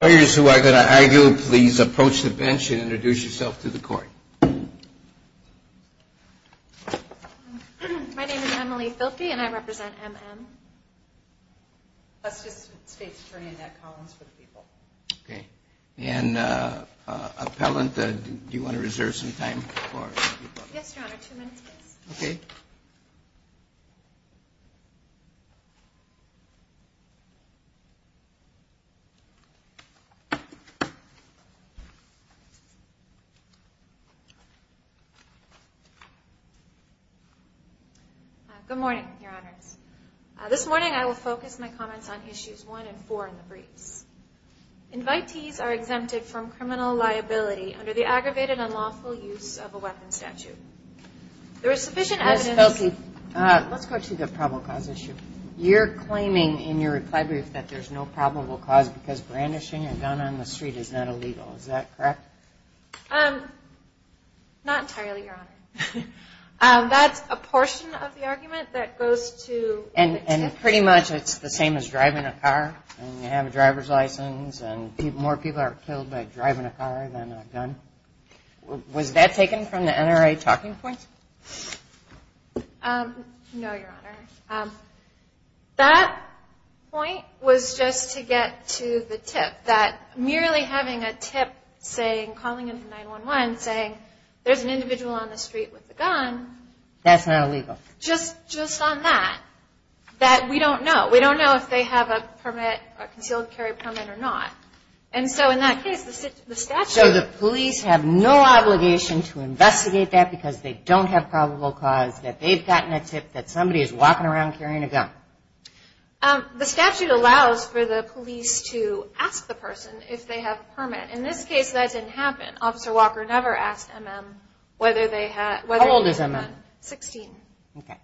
Please approach the bench and introduce yourself to the court. My name is Emily Filkey and I represent M.M. Let's just state attorney in that columns for the people. Okay. And appellant, do you want to reserve some time for the people? Yes, Your Honor. Two minutes, please. Okay. Good morning, Your Honors. This morning I will focus my comments on issues 1 and 4 in the briefs. Invitees are exempted from criminal liability under the aggravated and lawful use of a weapons statute. There is sufficient evidence. Ms. Filkey, let's go to the probable cause issue. You're claiming in your reply brief that there's no probable cause because brandishing a gun on the street is not illegal. Is that correct? Not entirely, Your Honor. That's a portion of the argument that goes to the two. And pretty much it's the same as driving a car. You have a driver's license and more people are killed by driving a car than a gun. Was that taken from the NRA talking points? No, Your Honor. That point was just to get to the tip, that merely having a tip saying, calling 9-1-1, saying there's an individual on the street with a gun. That's not illegal. Just on that, that we don't know. We don't know if they have a permit, a concealed carry permit or not. And so in that case, the statute. So the police have no obligation to investigate that because they don't have a probable cause that they've gotten a tip that somebody is walking around carrying a gun. The statute allows for the police to ask the person if they have a permit. In this case, that didn't happen. Officer Walker never asked MM whether they had a permit. How old is MM? Sixteen. Okay.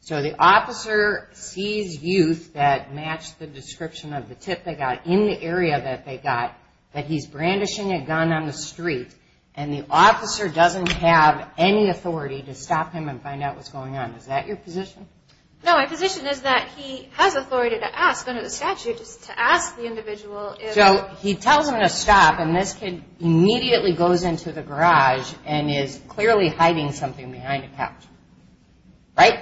So the officer sees youth that match the description of the tip they got in the area that they got, that he's brandishing a gun on the street, and the officer doesn't have any authority to stop him and find out what's going on. Is that your position? No. My position is that he has authority to ask under the statute to ask the individual if. So he tells him to stop, and this kid immediately goes into the garage and is clearly hiding something behind a couch. Right?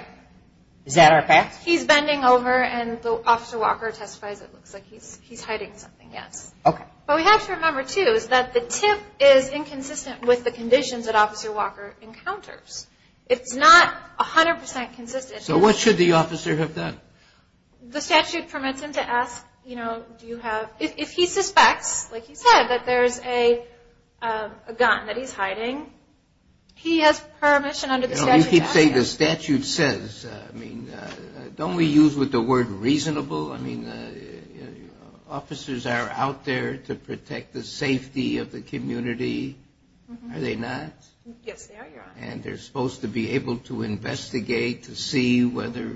Is that our fact? He's bending over, and Officer Walker testifies it looks like he's hiding something, yes. Okay. What we have to remember, too, is that the tip is inconsistent with the conditions that Officer Walker encounters. It's not 100% consistent. So what should the officer have done? The statute permits him to ask, you know, do you have, if he suspects, like he said, that there's a gun that he's hiding, he has permission under the statute to ask. You keep saying the statute says. I mean, don't we use the word reasonable? I mean, officers are out there to protect the safety of the community, are they not? Yes, they are, Your Honor. And they're supposed to be able to investigate to see whether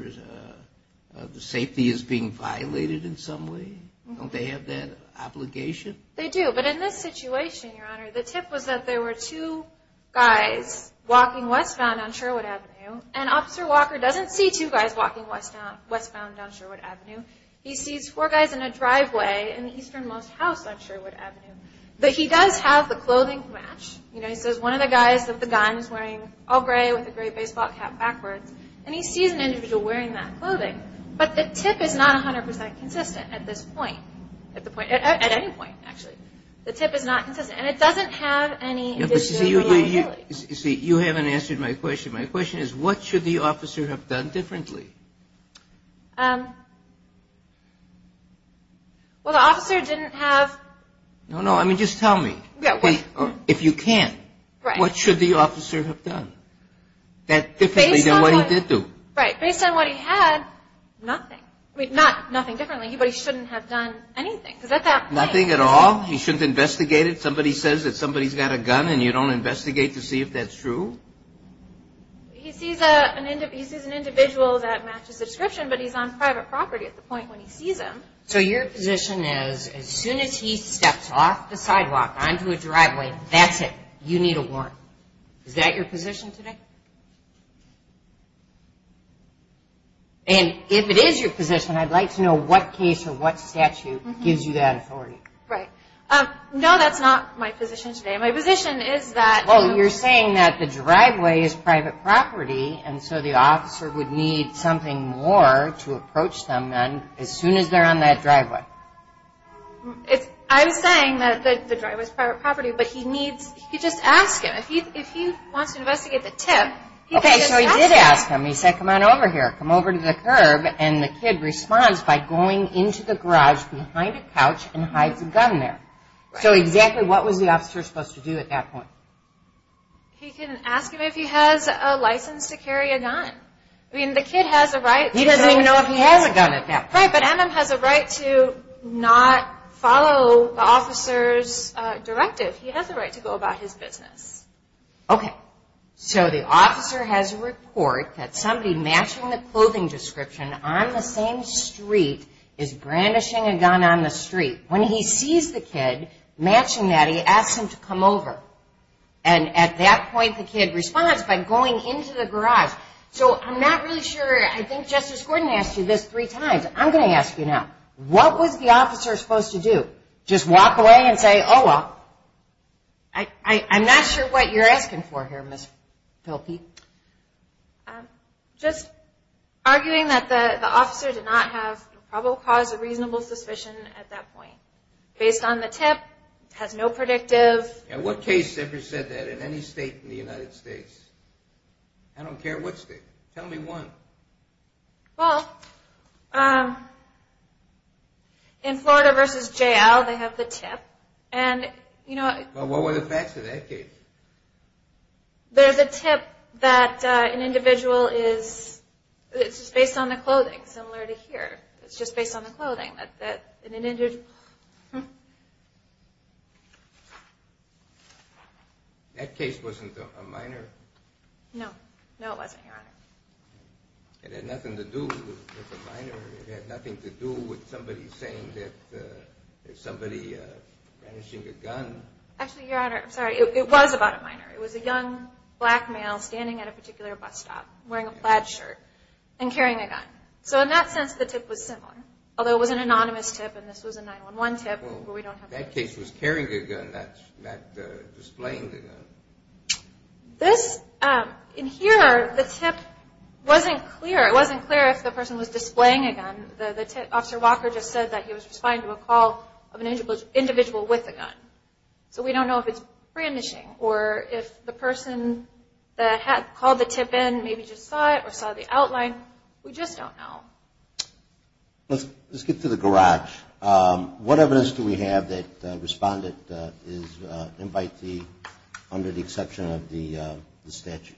the safety is being violated in some way? Don't they have that obligation? They do. But in this situation, Your Honor, the tip was that there were two guys walking westbound on Sherwood Avenue, and Officer Walker doesn't see two guys walking westbound on Sherwood Avenue. He sees four guys in a driveway in the easternmost house on Sherwood Avenue. But he does have the clothing to match. You know, he says one of the guys with the gun is wearing all gray with a gray baseball cap backwards, and he sees an individual wearing that clothing. But the tip is not 100% consistent at this point. At any point, actually. The tip is not consistent. And it doesn't have any disability liability. See, you haven't answered my question. My question is, what should the officer have done differently? Well, the officer didn't have. No, no. I mean, just tell me. If you can, what should the officer have done differently than what he did do? Right. Based on what he had, nothing. I mean, nothing differently. But he shouldn't have done anything. Is that that thing? Nothing at all? He shouldn't investigate it? Somebody says that somebody's got a gun and you don't investigate to see if that's true? He sees an individual that matches the description, but he's on private property at the point when he sees him. So your position is as soon as he steps off the sidewalk, onto a driveway, that's it. You need a warrant. Is that your position today? And if it is your position, I'd like to know what case or what statute gives you that authority. Right. No, that's not my position today. Well, you're saying that the driveway is private property, and so the officer would need something more to approach them as soon as they're on that driveway. I'm saying that the driveway's private property, but he needs, he could just ask him. If he wants to investigate the tip, he could just ask him. Okay, so he did ask him. He said, come on over here. Come over to the curb. And the kid responds by going into the garage behind a couch and hides a gun there. So exactly what was the officer supposed to do at that point? He can ask him if he has a license to carry a gun. I mean, the kid has a right. He doesn't even know if he has a gun at that point. Right, but Emem has a right to not follow the officer's directive. He has a right to go about his business. Okay, so the officer has a report that somebody matching the clothing description on the same street is brandishing a gun on the street. When he sees the kid matching that, he asks him to come over. And at that point, the kid responds by going into the garage. So I'm not really sure. I think Justice Gordon asked you this three times. I'm going to ask you now. What was the officer supposed to do? Just walk away and say, oh, well. I'm not sure what you're asking for here, Ms. Pilkey. Just arguing that the officer did not have probable cause of reasonable suspicion at that point. Based on the tip, has no predictive. And what case ever said that in any state in the United States? I don't care what state. Tell me one. Well, in Florida versus J.L., they have the tip. And, you know, What were the facts of that case? There's a tip that an individual is, it's just based on the clothing, similar to here. It's just based on the clothing. That an individual. That case wasn't a minor? No, it wasn't, Your Honor. It had nothing to do with a minor. It had nothing to do with somebody saying that somebody ranishing a gun. Actually, Your Honor, I'm sorry. It was about a minor. It was a young black male standing at a particular bus stop wearing a plaid shirt and carrying a gun. So in that sense, the tip was similar. Although it was an anonymous tip and this was a 911 tip. That case was carrying a gun, not displaying the gun. This, in here, the tip wasn't clear. It wasn't clear if the person was displaying a gun. Officer Walker just said that he was responding to a call of an individual with a gun. So we don't know if it's ranishing or if the person that called the tip in there maybe just saw it or saw the outline. We just don't know. Let's get to the garage. What evidence do we have that the respondent is an invitee under the exception of the statute?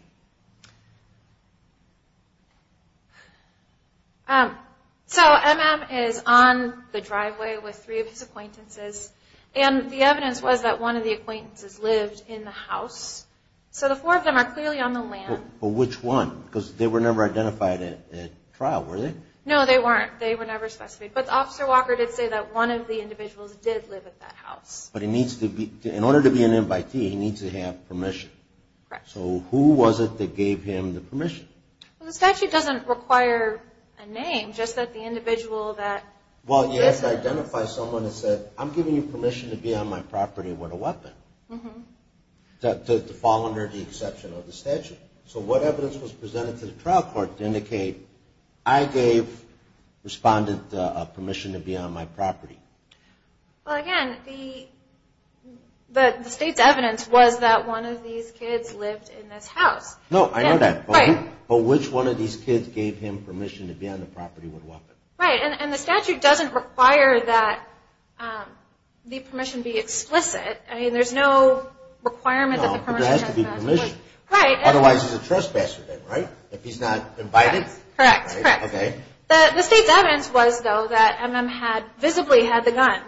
So MM is on the driveway with three of his acquaintances and the evidence was that one of the acquaintances lived in the house. So the four of them are clearly on the land. But which one? Because they were never identified at trial, were they? No, they weren't. They were never specified. But Officer Walker did say that one of the individuals did live at that house. But in order to be an invitee, he needs to have permission. Correct. So who was it that gave him the permission? Well, the statute doesn't require a name, just that the individual that lives there. Well, you have to identify someone that said, I'm giving you permission to be on my property with a weapon to fall under the exception of the statute. So what evidence was presented to the trial court to indicate, I gave respondent permission to be on my property? Well, again, the state's evidence was that one of these kids lived in this house. No, I know that. But which one of these kids gave him permission to be on the property with a weapon? Right. And the statute doesn't require that the permission be explicit. I mean, there's no requirement that the permission be explicit. No, there has to be permission. Right. Otherwise, he's a trespasser then, right? If he's not invited? Correct. Correct. Okay. The state's evidence was, though, that M.M. had visibly had the gun.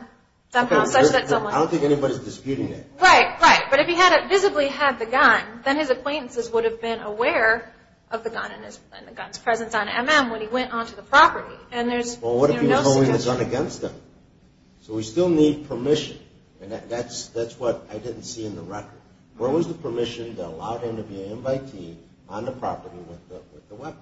I don't think anybody's disputing that. Right. Right. But if he visibly had the gun, then his acquaintances would have been aware of the gun and the gun's presence on M.M. when he went onto the property. Well, what if he was holding the gun against them? So we still need permission. And that's what I didn't see in the record. Where was the permission that allowed him to be an invitee on the property with the weapon?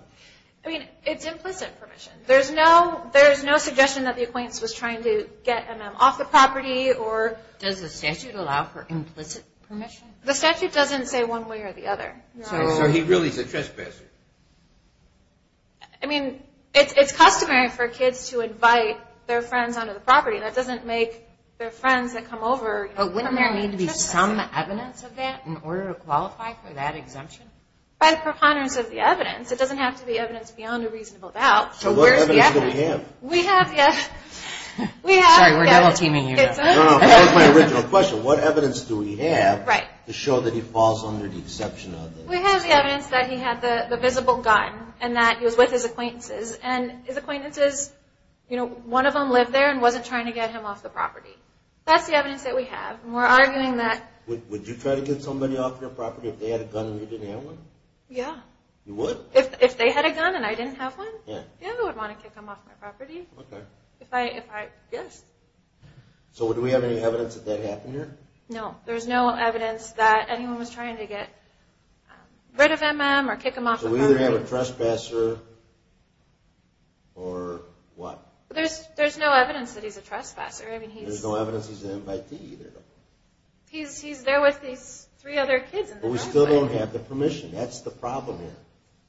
I mean, it's implicit permission. There's no suggestion that the acquaintance was trying to get M.M. off the property or – Does the statute allow for implicit permission? The statute doesn't say one way or the other. So he really is a trespasser. I mean, it's customary for kids to invite their friends onto the property. That doesn't make their friends that come over – But wouldn't there need to be some evidence of that in order to qualify for that exemption? By the preponderance of the evidence. It doesn't have to be evidence beyond a reasonable doubt. So where's the evidence? So what evidence do we have? We have – Sorry, we're double-teaming you. No, no. That was my original question. What evidence do we have to show that he falls under the exception of this? We have the evidence that he had the visible gun and that he was with his acquaintances. And his acquaintances, you know, one of them lived there and wasn't trying to get him off the property. That's the evidence that we have. And we're arguing that – Would you try to get somebody off your property if they had a gun and you didn't have one? Yeah. You would? If they had a gun and I didn't have one? Yeah. Yeah, I would want to kick them off my property. Okay. If I – yes. So do we have any evidence that that happened here? No. There's no evidence that anyone was trying to get rid of M.M. or kick him off the property. So we either have a trespasser or what? There's no evidence that he's a trespasser. There's no evidence he's an invitee either. He's there with these three other kids in the driveway. But we still don't have the permission. That's the problem here.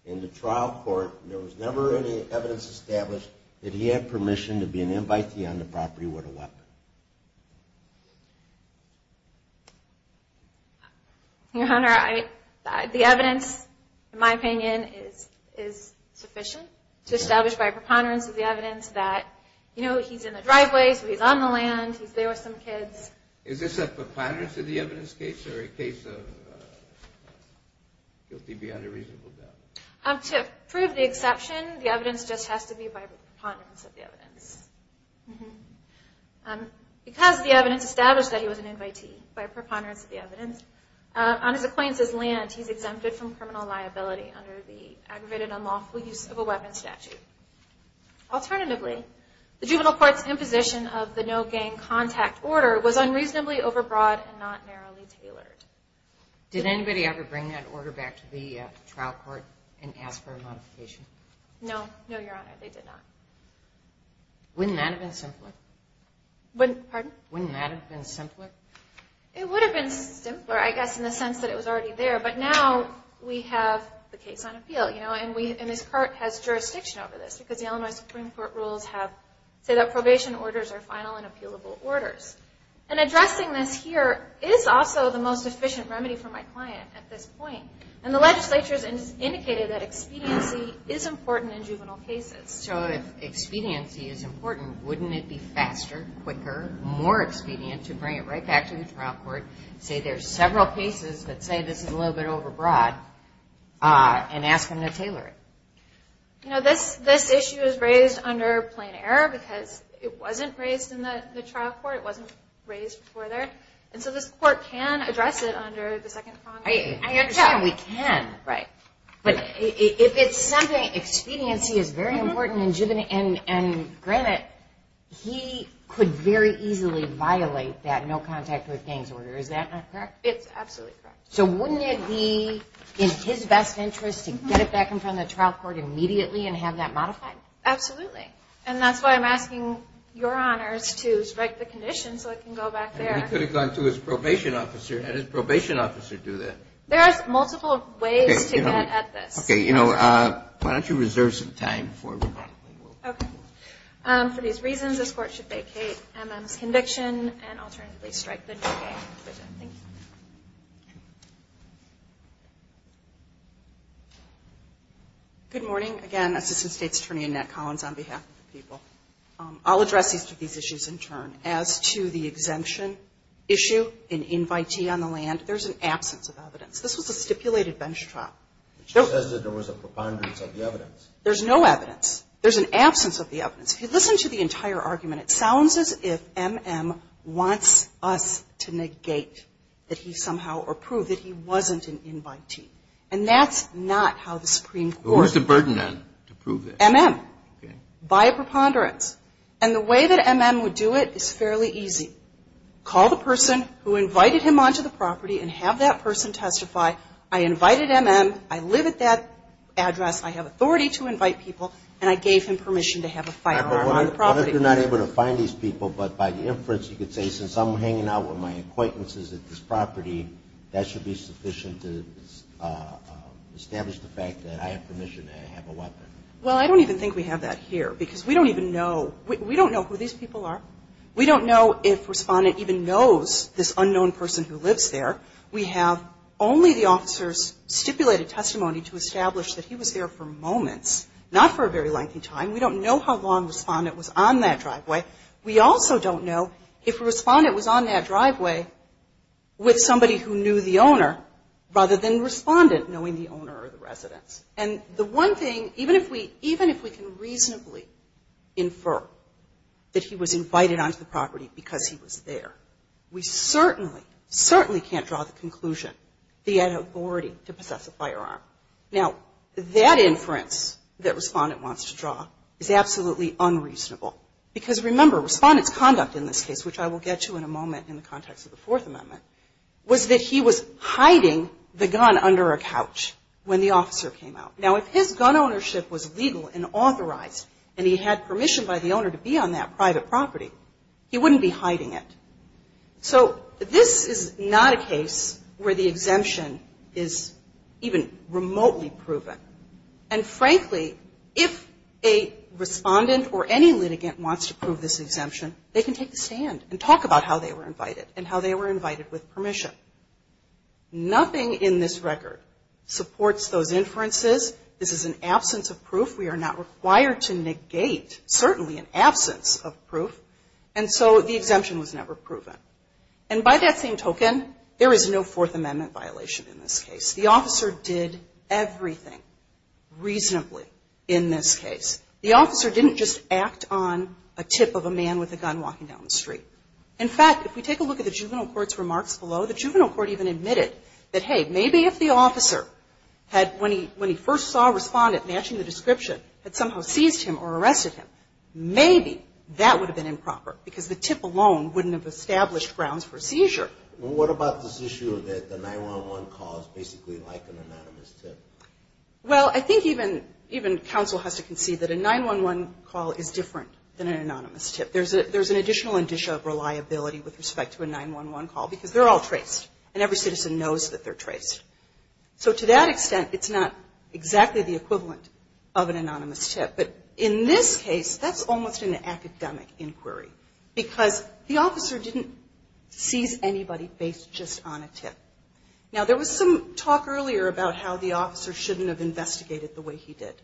In the trial court, there was never any evidence established that he had permission to be an invitee on the property with a weapon. Your Honor, the evidence, in my opinion, is sufficient to establish by preponderance of the evidence that, you know, he's in the driveway, so he's on the land, he's there with some kids. Is this a preponderance of the evidence case or a case of guilty beyond a reasonable doubt? To prove the exception, Because the evidence established that he was an invitee by preponderance of the evidence, on his acquaintance's land, he's exempted from criminal liability under the aggravated unlawful use of a weapon statute. Alternatively, the juvenile court's imposition of the no-gang contact order was unreasonably overbroad and not narrowly tailored. Did anybody ever bring that order back to the trial court and ask for a modification? No. No, Your Honor, they did not. Wouldn't that have been simpler? Pardon? Wouldn't that have been simpler? It would have been simpler, I guess, in the sense that it was already there, but now we have the case on appeal, you know, and this court has jurisdiction over this because the Illinois Supreme Court rules say that probation orders are final and appealable orders. And addressing this here is also the most efficient remedy for my client at this point. And the legislature has indicated that expediency is important in juvenile cases. So if expediency is important, wouldn't it be faster, quicker, more expedient to bring it right back to the trial court, say there's several cases that say this is a little bit overbroad, and ask them to tailor it? You know, this issue is raised under plain error because it wasn't raised in the trial court. It wasn't raised before there. And so this court can address it under the second prong. I understand we can. Right. But if expediency is very important in juvenile, and granted, he could very easily violate that no-contact-with-gains order. Is that not correct? It's absolutely correct. So wouldn't it be in his best interest to get it back in front of the trial court immediately and have that modified? Absolutely. And that's why I'm asking your honors to strike the condition so it can go back there. He could have gone to his probation officer and had his probation officer do that. There are multiple ways to get at this. Okay. Why don't you reserve some time before we move on? Okay. For these reasons, this court should vacate M.M.'s conviction and alternatively strike the new gain provision. Thank you. Good morning. Again, Assistant State's Attorney Annette Collins on behalf of the people. I'll address these issues in turn. As to the exemption issue in invitee on the land, there's an absence of evidence. This was a stipulated bench trial. It just says that there was a preponderance of the evidence. There's no evidence. There's an absence of the evidence. If you listen to the entire argument, it sounds as if M.M. wants us to negate that he somehow approved that he wasn't an invitee. And that's not how the Supreme Court ---- Who's the burden then to prove this? M.M. Okay. By a preponderance. And the way that M.M. would do it is fairly easy. Call the person who invited him onto the property and have that person testify, I invited M.M., I live at that address, I have authority to invite people, and I gave him permission to have a firearm on the property. What if you're not able to find these people, but by the inference you could say, since I'm hanging out with my acquaintances at this property, that should be sufficient to establish the fact that I have permission to have a weapon? Well, I don't even think we have that here because we don't even know ---- we don't know who these people are. We don't know if Respondent even knows this unknown person who lives there. We have only the officer's stipulated testimony to establish that he was there for moments, not for a very lengthy time. We don't know how long Respondent was on that driveway. We also don't know if Respondent was on that driveway with somebody who knew the owner rather than Respondent knowing the owner or the residence. And the one thing, even if we can reasonably infer that he was invited onto the property because he was there, we certainly, certainly can't draw the conclusion that he had authority to possess a firearm. Now, that inference that Respondent wants to draw is absolutely unreasonable because, remember, Respondent's conduct in this case, which I will get to in a moment in the context of the Fourth Amendment, was that he was hiding the gun under a couch when the officer came out. Now, if his gun ownership was legal and authorized and he had permission by the owner to be on that private property, he wouldn't be hiding it. So this is not a case where the exemption is even remotely proven. And, frankly, if a Respondent or any litigant wants to prove this exemption, they can take a stand and talk about how they were invited and how they were invited with permission. Nothing in this record supports those inferences. This is an absence of proof. We are not required to negate, certainly, an absence of proof. And so the exemption was never proven. And by that same token, there is no Fourth Amendment violation in this case. The officer did everything reasonably in this case. The officer didn't just act on a tip of a man with a gun walking down the street. In fact, if we take a look at the Juvenile Court's remarks below, the Juvenile Court even admitted that, hey, maybe if the officer had, when he first saw a Respondent matching the description, had somehow seized him or arrested him, maybe that would have been improper because the tip alone wouldn't have established grounds for seizure. Well, what about this issue that the 911 call is basically like an anonymous tip? Well, I think even counsel has to concede that a 911 call is different than an anonymous tip. There's an additional indicia of reliability with respect to a 911 call because they're all traced, and every citizen knows that they're traced. So to that extent, it's not exactly the equivalent of an anonymous tip. But in this case, that's almost an academic inquiry because the officer didn't seize anybody based just on a tip. Now, there was some talk earlier about how the officer shouldn't have investigated the way he did.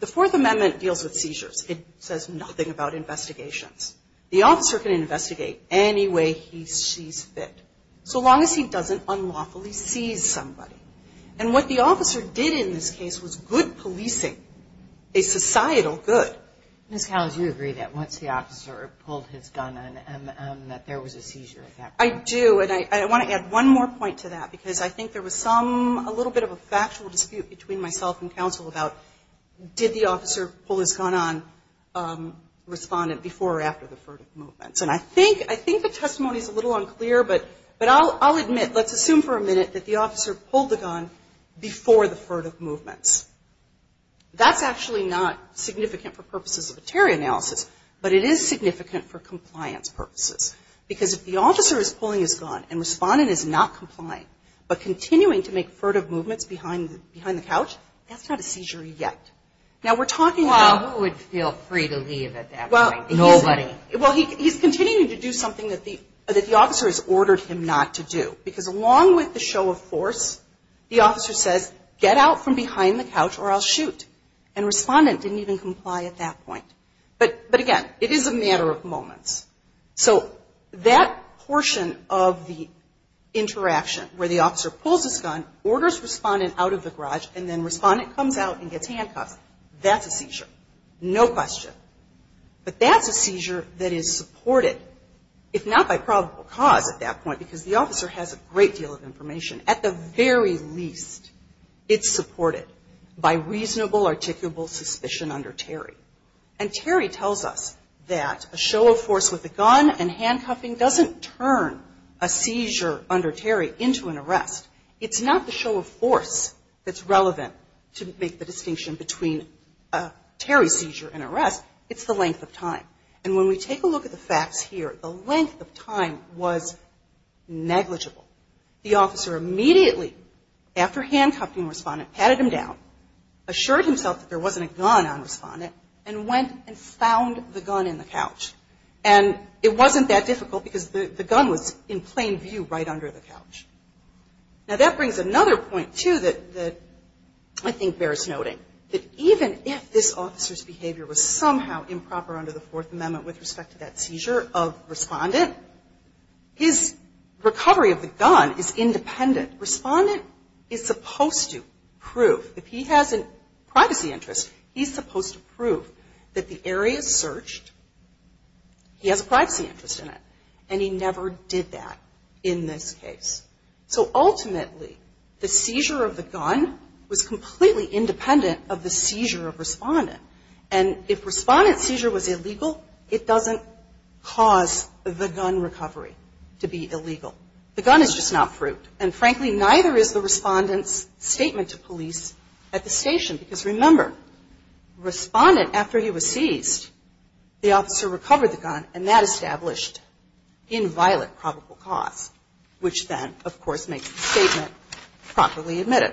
The Fourth Amendment deals with seizures. It says nothing about investigations. The officer can investigate any way he sees fit, so long as he doesn't unlawfully seize somebody. And what the officer did in this case was good policing, a societal good. Ms. Cowles, you agree that once the officer pulled his gun on him that there was a seizure at that point? I do. And I want to add one more point to that because I think there was some, a little bit of a factual dispute between myself and counsel about did the officer pull the gun before or after the furtive movements. And I think the testimony is a little unclear, but I'll admit, let's assume for a minute that the officer pulled the gun before the furtive movements. That's actually not significant for purposes of a terror analysis, but it is significant for compliance purposes because if the officer is pulling his gun and respondent is not complying, but continuing to make furtive movements behind the couch, that's not a seizure yet. Now, we're talking about Well, who would feel free to leave at that point? Nobody. Well, he's continuing to do something that the officer has ordered him not to do because along with the show of force, the officer says, get out from behind the couch or I'll shoot. And respondent didn't even comply at that point. But again, it is a matter of moments. So that portion of the interaction where the officer pulls his gun, orders respondent out of the garage, and then respondent comes out and gets handcuffed, that's a seizure. No question. But that's a seizure that is supported, if not by probable cause at that point, because the officer has a great deal of information. At the very least, it's supported by reasonable, articulable suspicion under Terry. And Terry tells us that a show of force with a gun and handcuffing doesn't turn a seizure under Terry into an arrest. It's not the show of force that's relevant to make the distinction between a Terry seizure and arrest. It's the length of time. And when we take a look at the facts here, the length of time was negligible. The officer immediately, after handcuffing respondent, patted him down, assured himself that there wasn't a gun on respondent, and went and found the gun in the couch. And it wasn't that difficult because the gun was in plain view right under the couch. Now, that brings another point, too, that I think bears noting, that even if this officer's behavior was somehow improper under the Fourth Amendment with respect to that seizure of respondent, his recovery of the gun is independent. Respondent is supposed to prove, if he has a privacy interest, he's supposed to prove that the area is searched, he has a privacy interest in it. And he never did that in this case. So ultimately, the seizure of the gun was completely independent of the seizure of respondent. And if respondent's seizure was illegal, it doesn't cause the gun recovery to be illegal. The gun is just not proved. And frankly, neither is the respondent's statement to police at the station. Because remember, respondent, after he was seized, the officer recovered the gun, and that established inviolate probable cause, which then, of course, makes the statement properly admitted.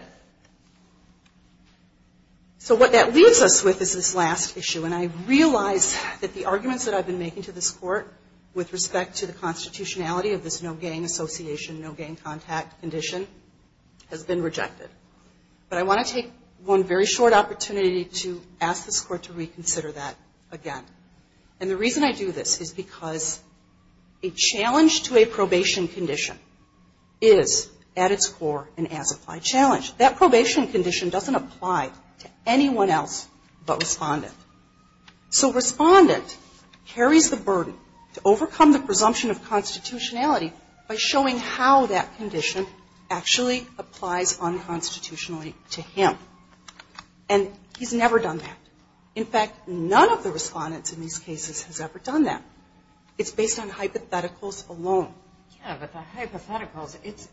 So what that leaves us with is this last issue. And I realize that the arguments that I've been making to this Court with respect to the constitutionality of this no gang association, no gang contact condition has been rejected. But I want to take one very short opportunity to ask this Court to reconsider that again. And the reason I do this is because a challenge to a probation condition is, at its core, an as-applied challenge. That probation condition doesn't apply to anyone else but respondent. So respondent carries the burden to overcome the presumption of constitutionality by showing how that condition actually applies unconstitutionally to him. And he's never done that. In fact, none of the respondents in these cases has ever done that. It's based on hypotheticals alone. Yeah, but the hypotheticals, it's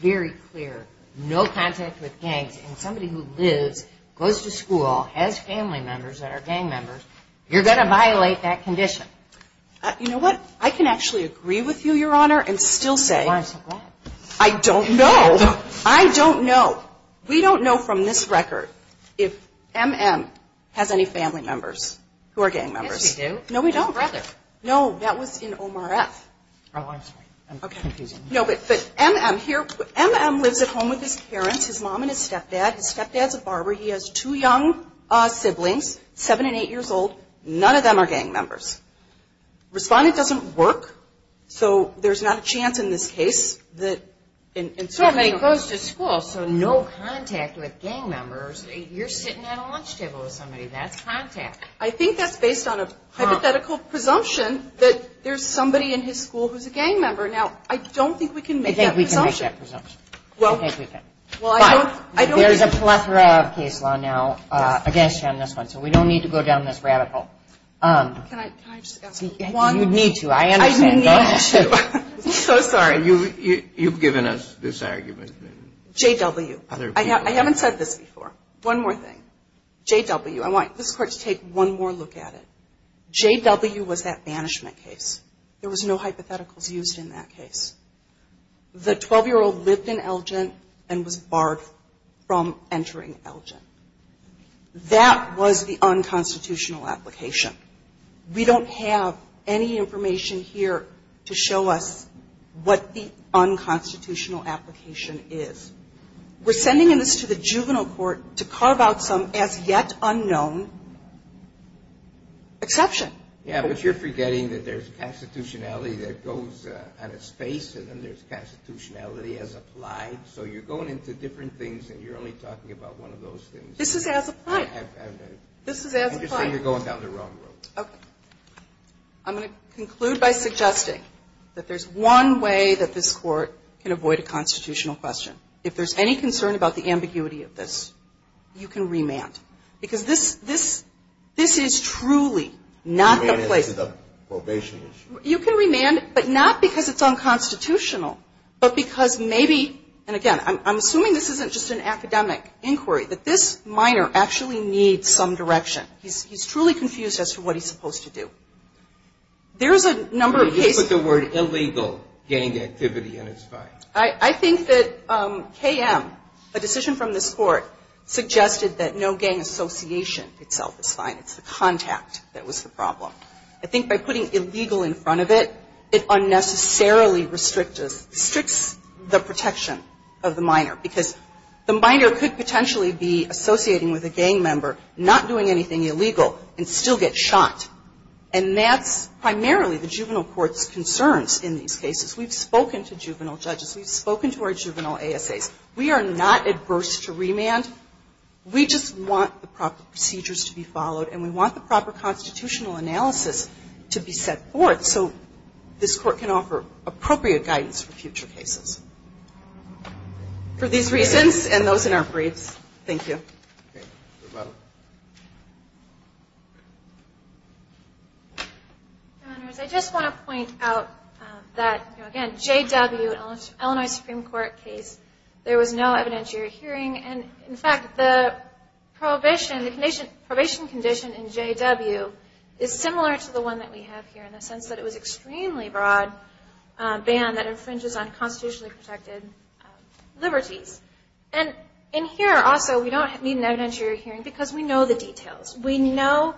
very clear. No contact with gangs. And somebody who lives, goes to school, has family members that are gang members, you're going to violate that condition. You know what? I can actually agree with you, Your Honor, and still say I don't know. I don't know. Well, we don't know from this record if M.M. has any family members who are gang members. Yes, we do. No, we don't. His brother. No, that was in OMRF. Oh, I'm sorry. I'm confusing. No, but M.M. here, M.M. lives at home with his parents, his mom and his stepdad. His stepdad's a barber. He has two young siblings, 7 and 8 years old. None of them are gang members. Respondent doesn't work, so there's not a chance in this case that somebody goes to school, so no contact with gang members. You're sitting at a lunch table with somebody. That's contact. I think that's based on a hypothetical presumption that there's somebody in his school who's a gang member. Now, I don't think we can make that presumption. I think we can make that presumption. Well, I don't think we can. There's a plethora of case law now against you on this one, so we don't need to go down this rabbit hole. Can I just ask one? You need to. I understand. You need to. I'm so sorry. You've given us this argument. J.W. I haven't said this before. One more thing. J.W. I want this Court to take one more look at it. J.W. was that banishment case. There was no hypotheticals used in that case. The 12-year-old lived in Elgin and was barred from entering Elgin. That was the unconstitutional application. We don't have any information here to show us what the unconstitutional application is. We're sending this to the juvenile court to carve out some as-yet-unknown exception. Yeah, but you're forgetting that there's constitutionality that goes on its face, and then there's constitutionality as applied. So you're going into different things, and you're only talking about one of those things. This is as applied. This is as applied. You're saying you're going down the wrong road. Okay. I'm going to conclude by suggesting that there's one way that this Court can avoid a constitutional question. If there's any concern about the ambiguity of this, you can remand. Because this is truly not the place. Remand is the probation issue. You can remand, but not because it's unconstitutional, but because maybe, and again, I'm assuming this isn't just an academic inquiry, that this minor actually needs some direction. He's truly confused as to what he's supposed to do. There's a number of cases. You put the word illegal gang activity, and it's fine. I think that KM, a decision from this Court, suggested that no gang association itself is fine. It's the contact that was the problem. I think by putting illegal in front of it, it unnecessarily restricts the protection of the minor, because the minor could potentially be associating with a gang member, not doing anything illegal, and still get shot. And that's primarily the juvenile court's concerns in these cases. We've spoken to juvenile judges. We've spoken to our juvenile ASAs. We are not adverse to remand. We just want the proper procedures to be followed, and we want the proper constitutional analysis to be set forth so this Court can offer appropriate guidance for future cases. For these reasons and those in our briefs, thank you. Thank you. Good luck. Your Honors, I just want to point out that, again, J.W., Illinois Supreme Court case, there was no evidentiary hearing. In fact, the probation condition in J.W. is similar to the one that we have here in the sense that it was an extremely broad ban that infringes on constitutionally protected liberties. And here also, we don't need an evidentiary hearing because we know the details. We know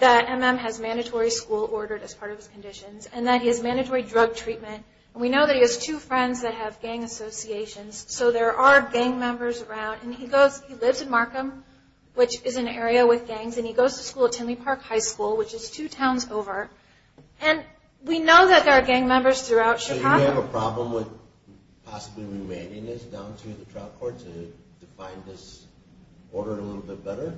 that M.M. has mandatory school ordered as part of his conditions, and that he has mandatory drug treatment, and we know that he has two friends that have gang associations, so there are gang members around. And he lives in Markham, which is an area with gangs, and he goes to school at Tinley Park High School, which is two towns over. And we know that there are gang members throughout Chicago. Do we have a problem with possibly remanding this down to the trial court to define this order a little bit better?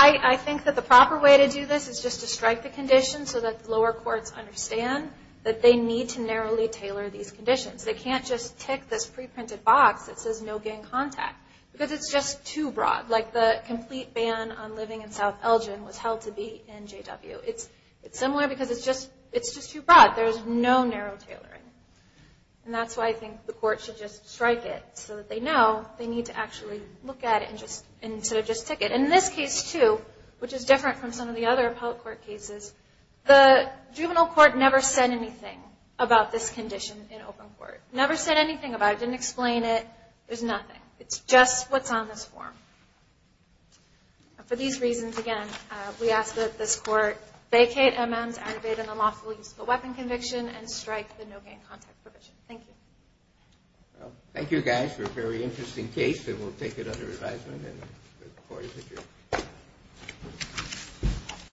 I think that the proper way to do this is just to strike the condition so that the lower courts understand that they need to narrowly tailor these conditions. They can't just tick this preprinted box that says no gang contact because it's just too broad. Like the complete ban on living in South Elgin was held to be in J.W. It's similar because it's just too broad. There's no narrow tailoring. And that's why I think the court should just strike it so that they know they need to actually look at it instead of just tick it. In this case, too, which is different from some of the other appellate court cases, the juvenile court never said anything about this condition in open court. Never said anything about it. Didn't explain it. There's nothing. It's just what's on this form. For these reasons, again, we ask that this court vacate M.M.'s aggravated and unlawful use of a weapon conviction and strike the no gang contact provision. Thank you. Thank you, guys, for a very interesting case. And we'll take it under advisement and the court is adjourned.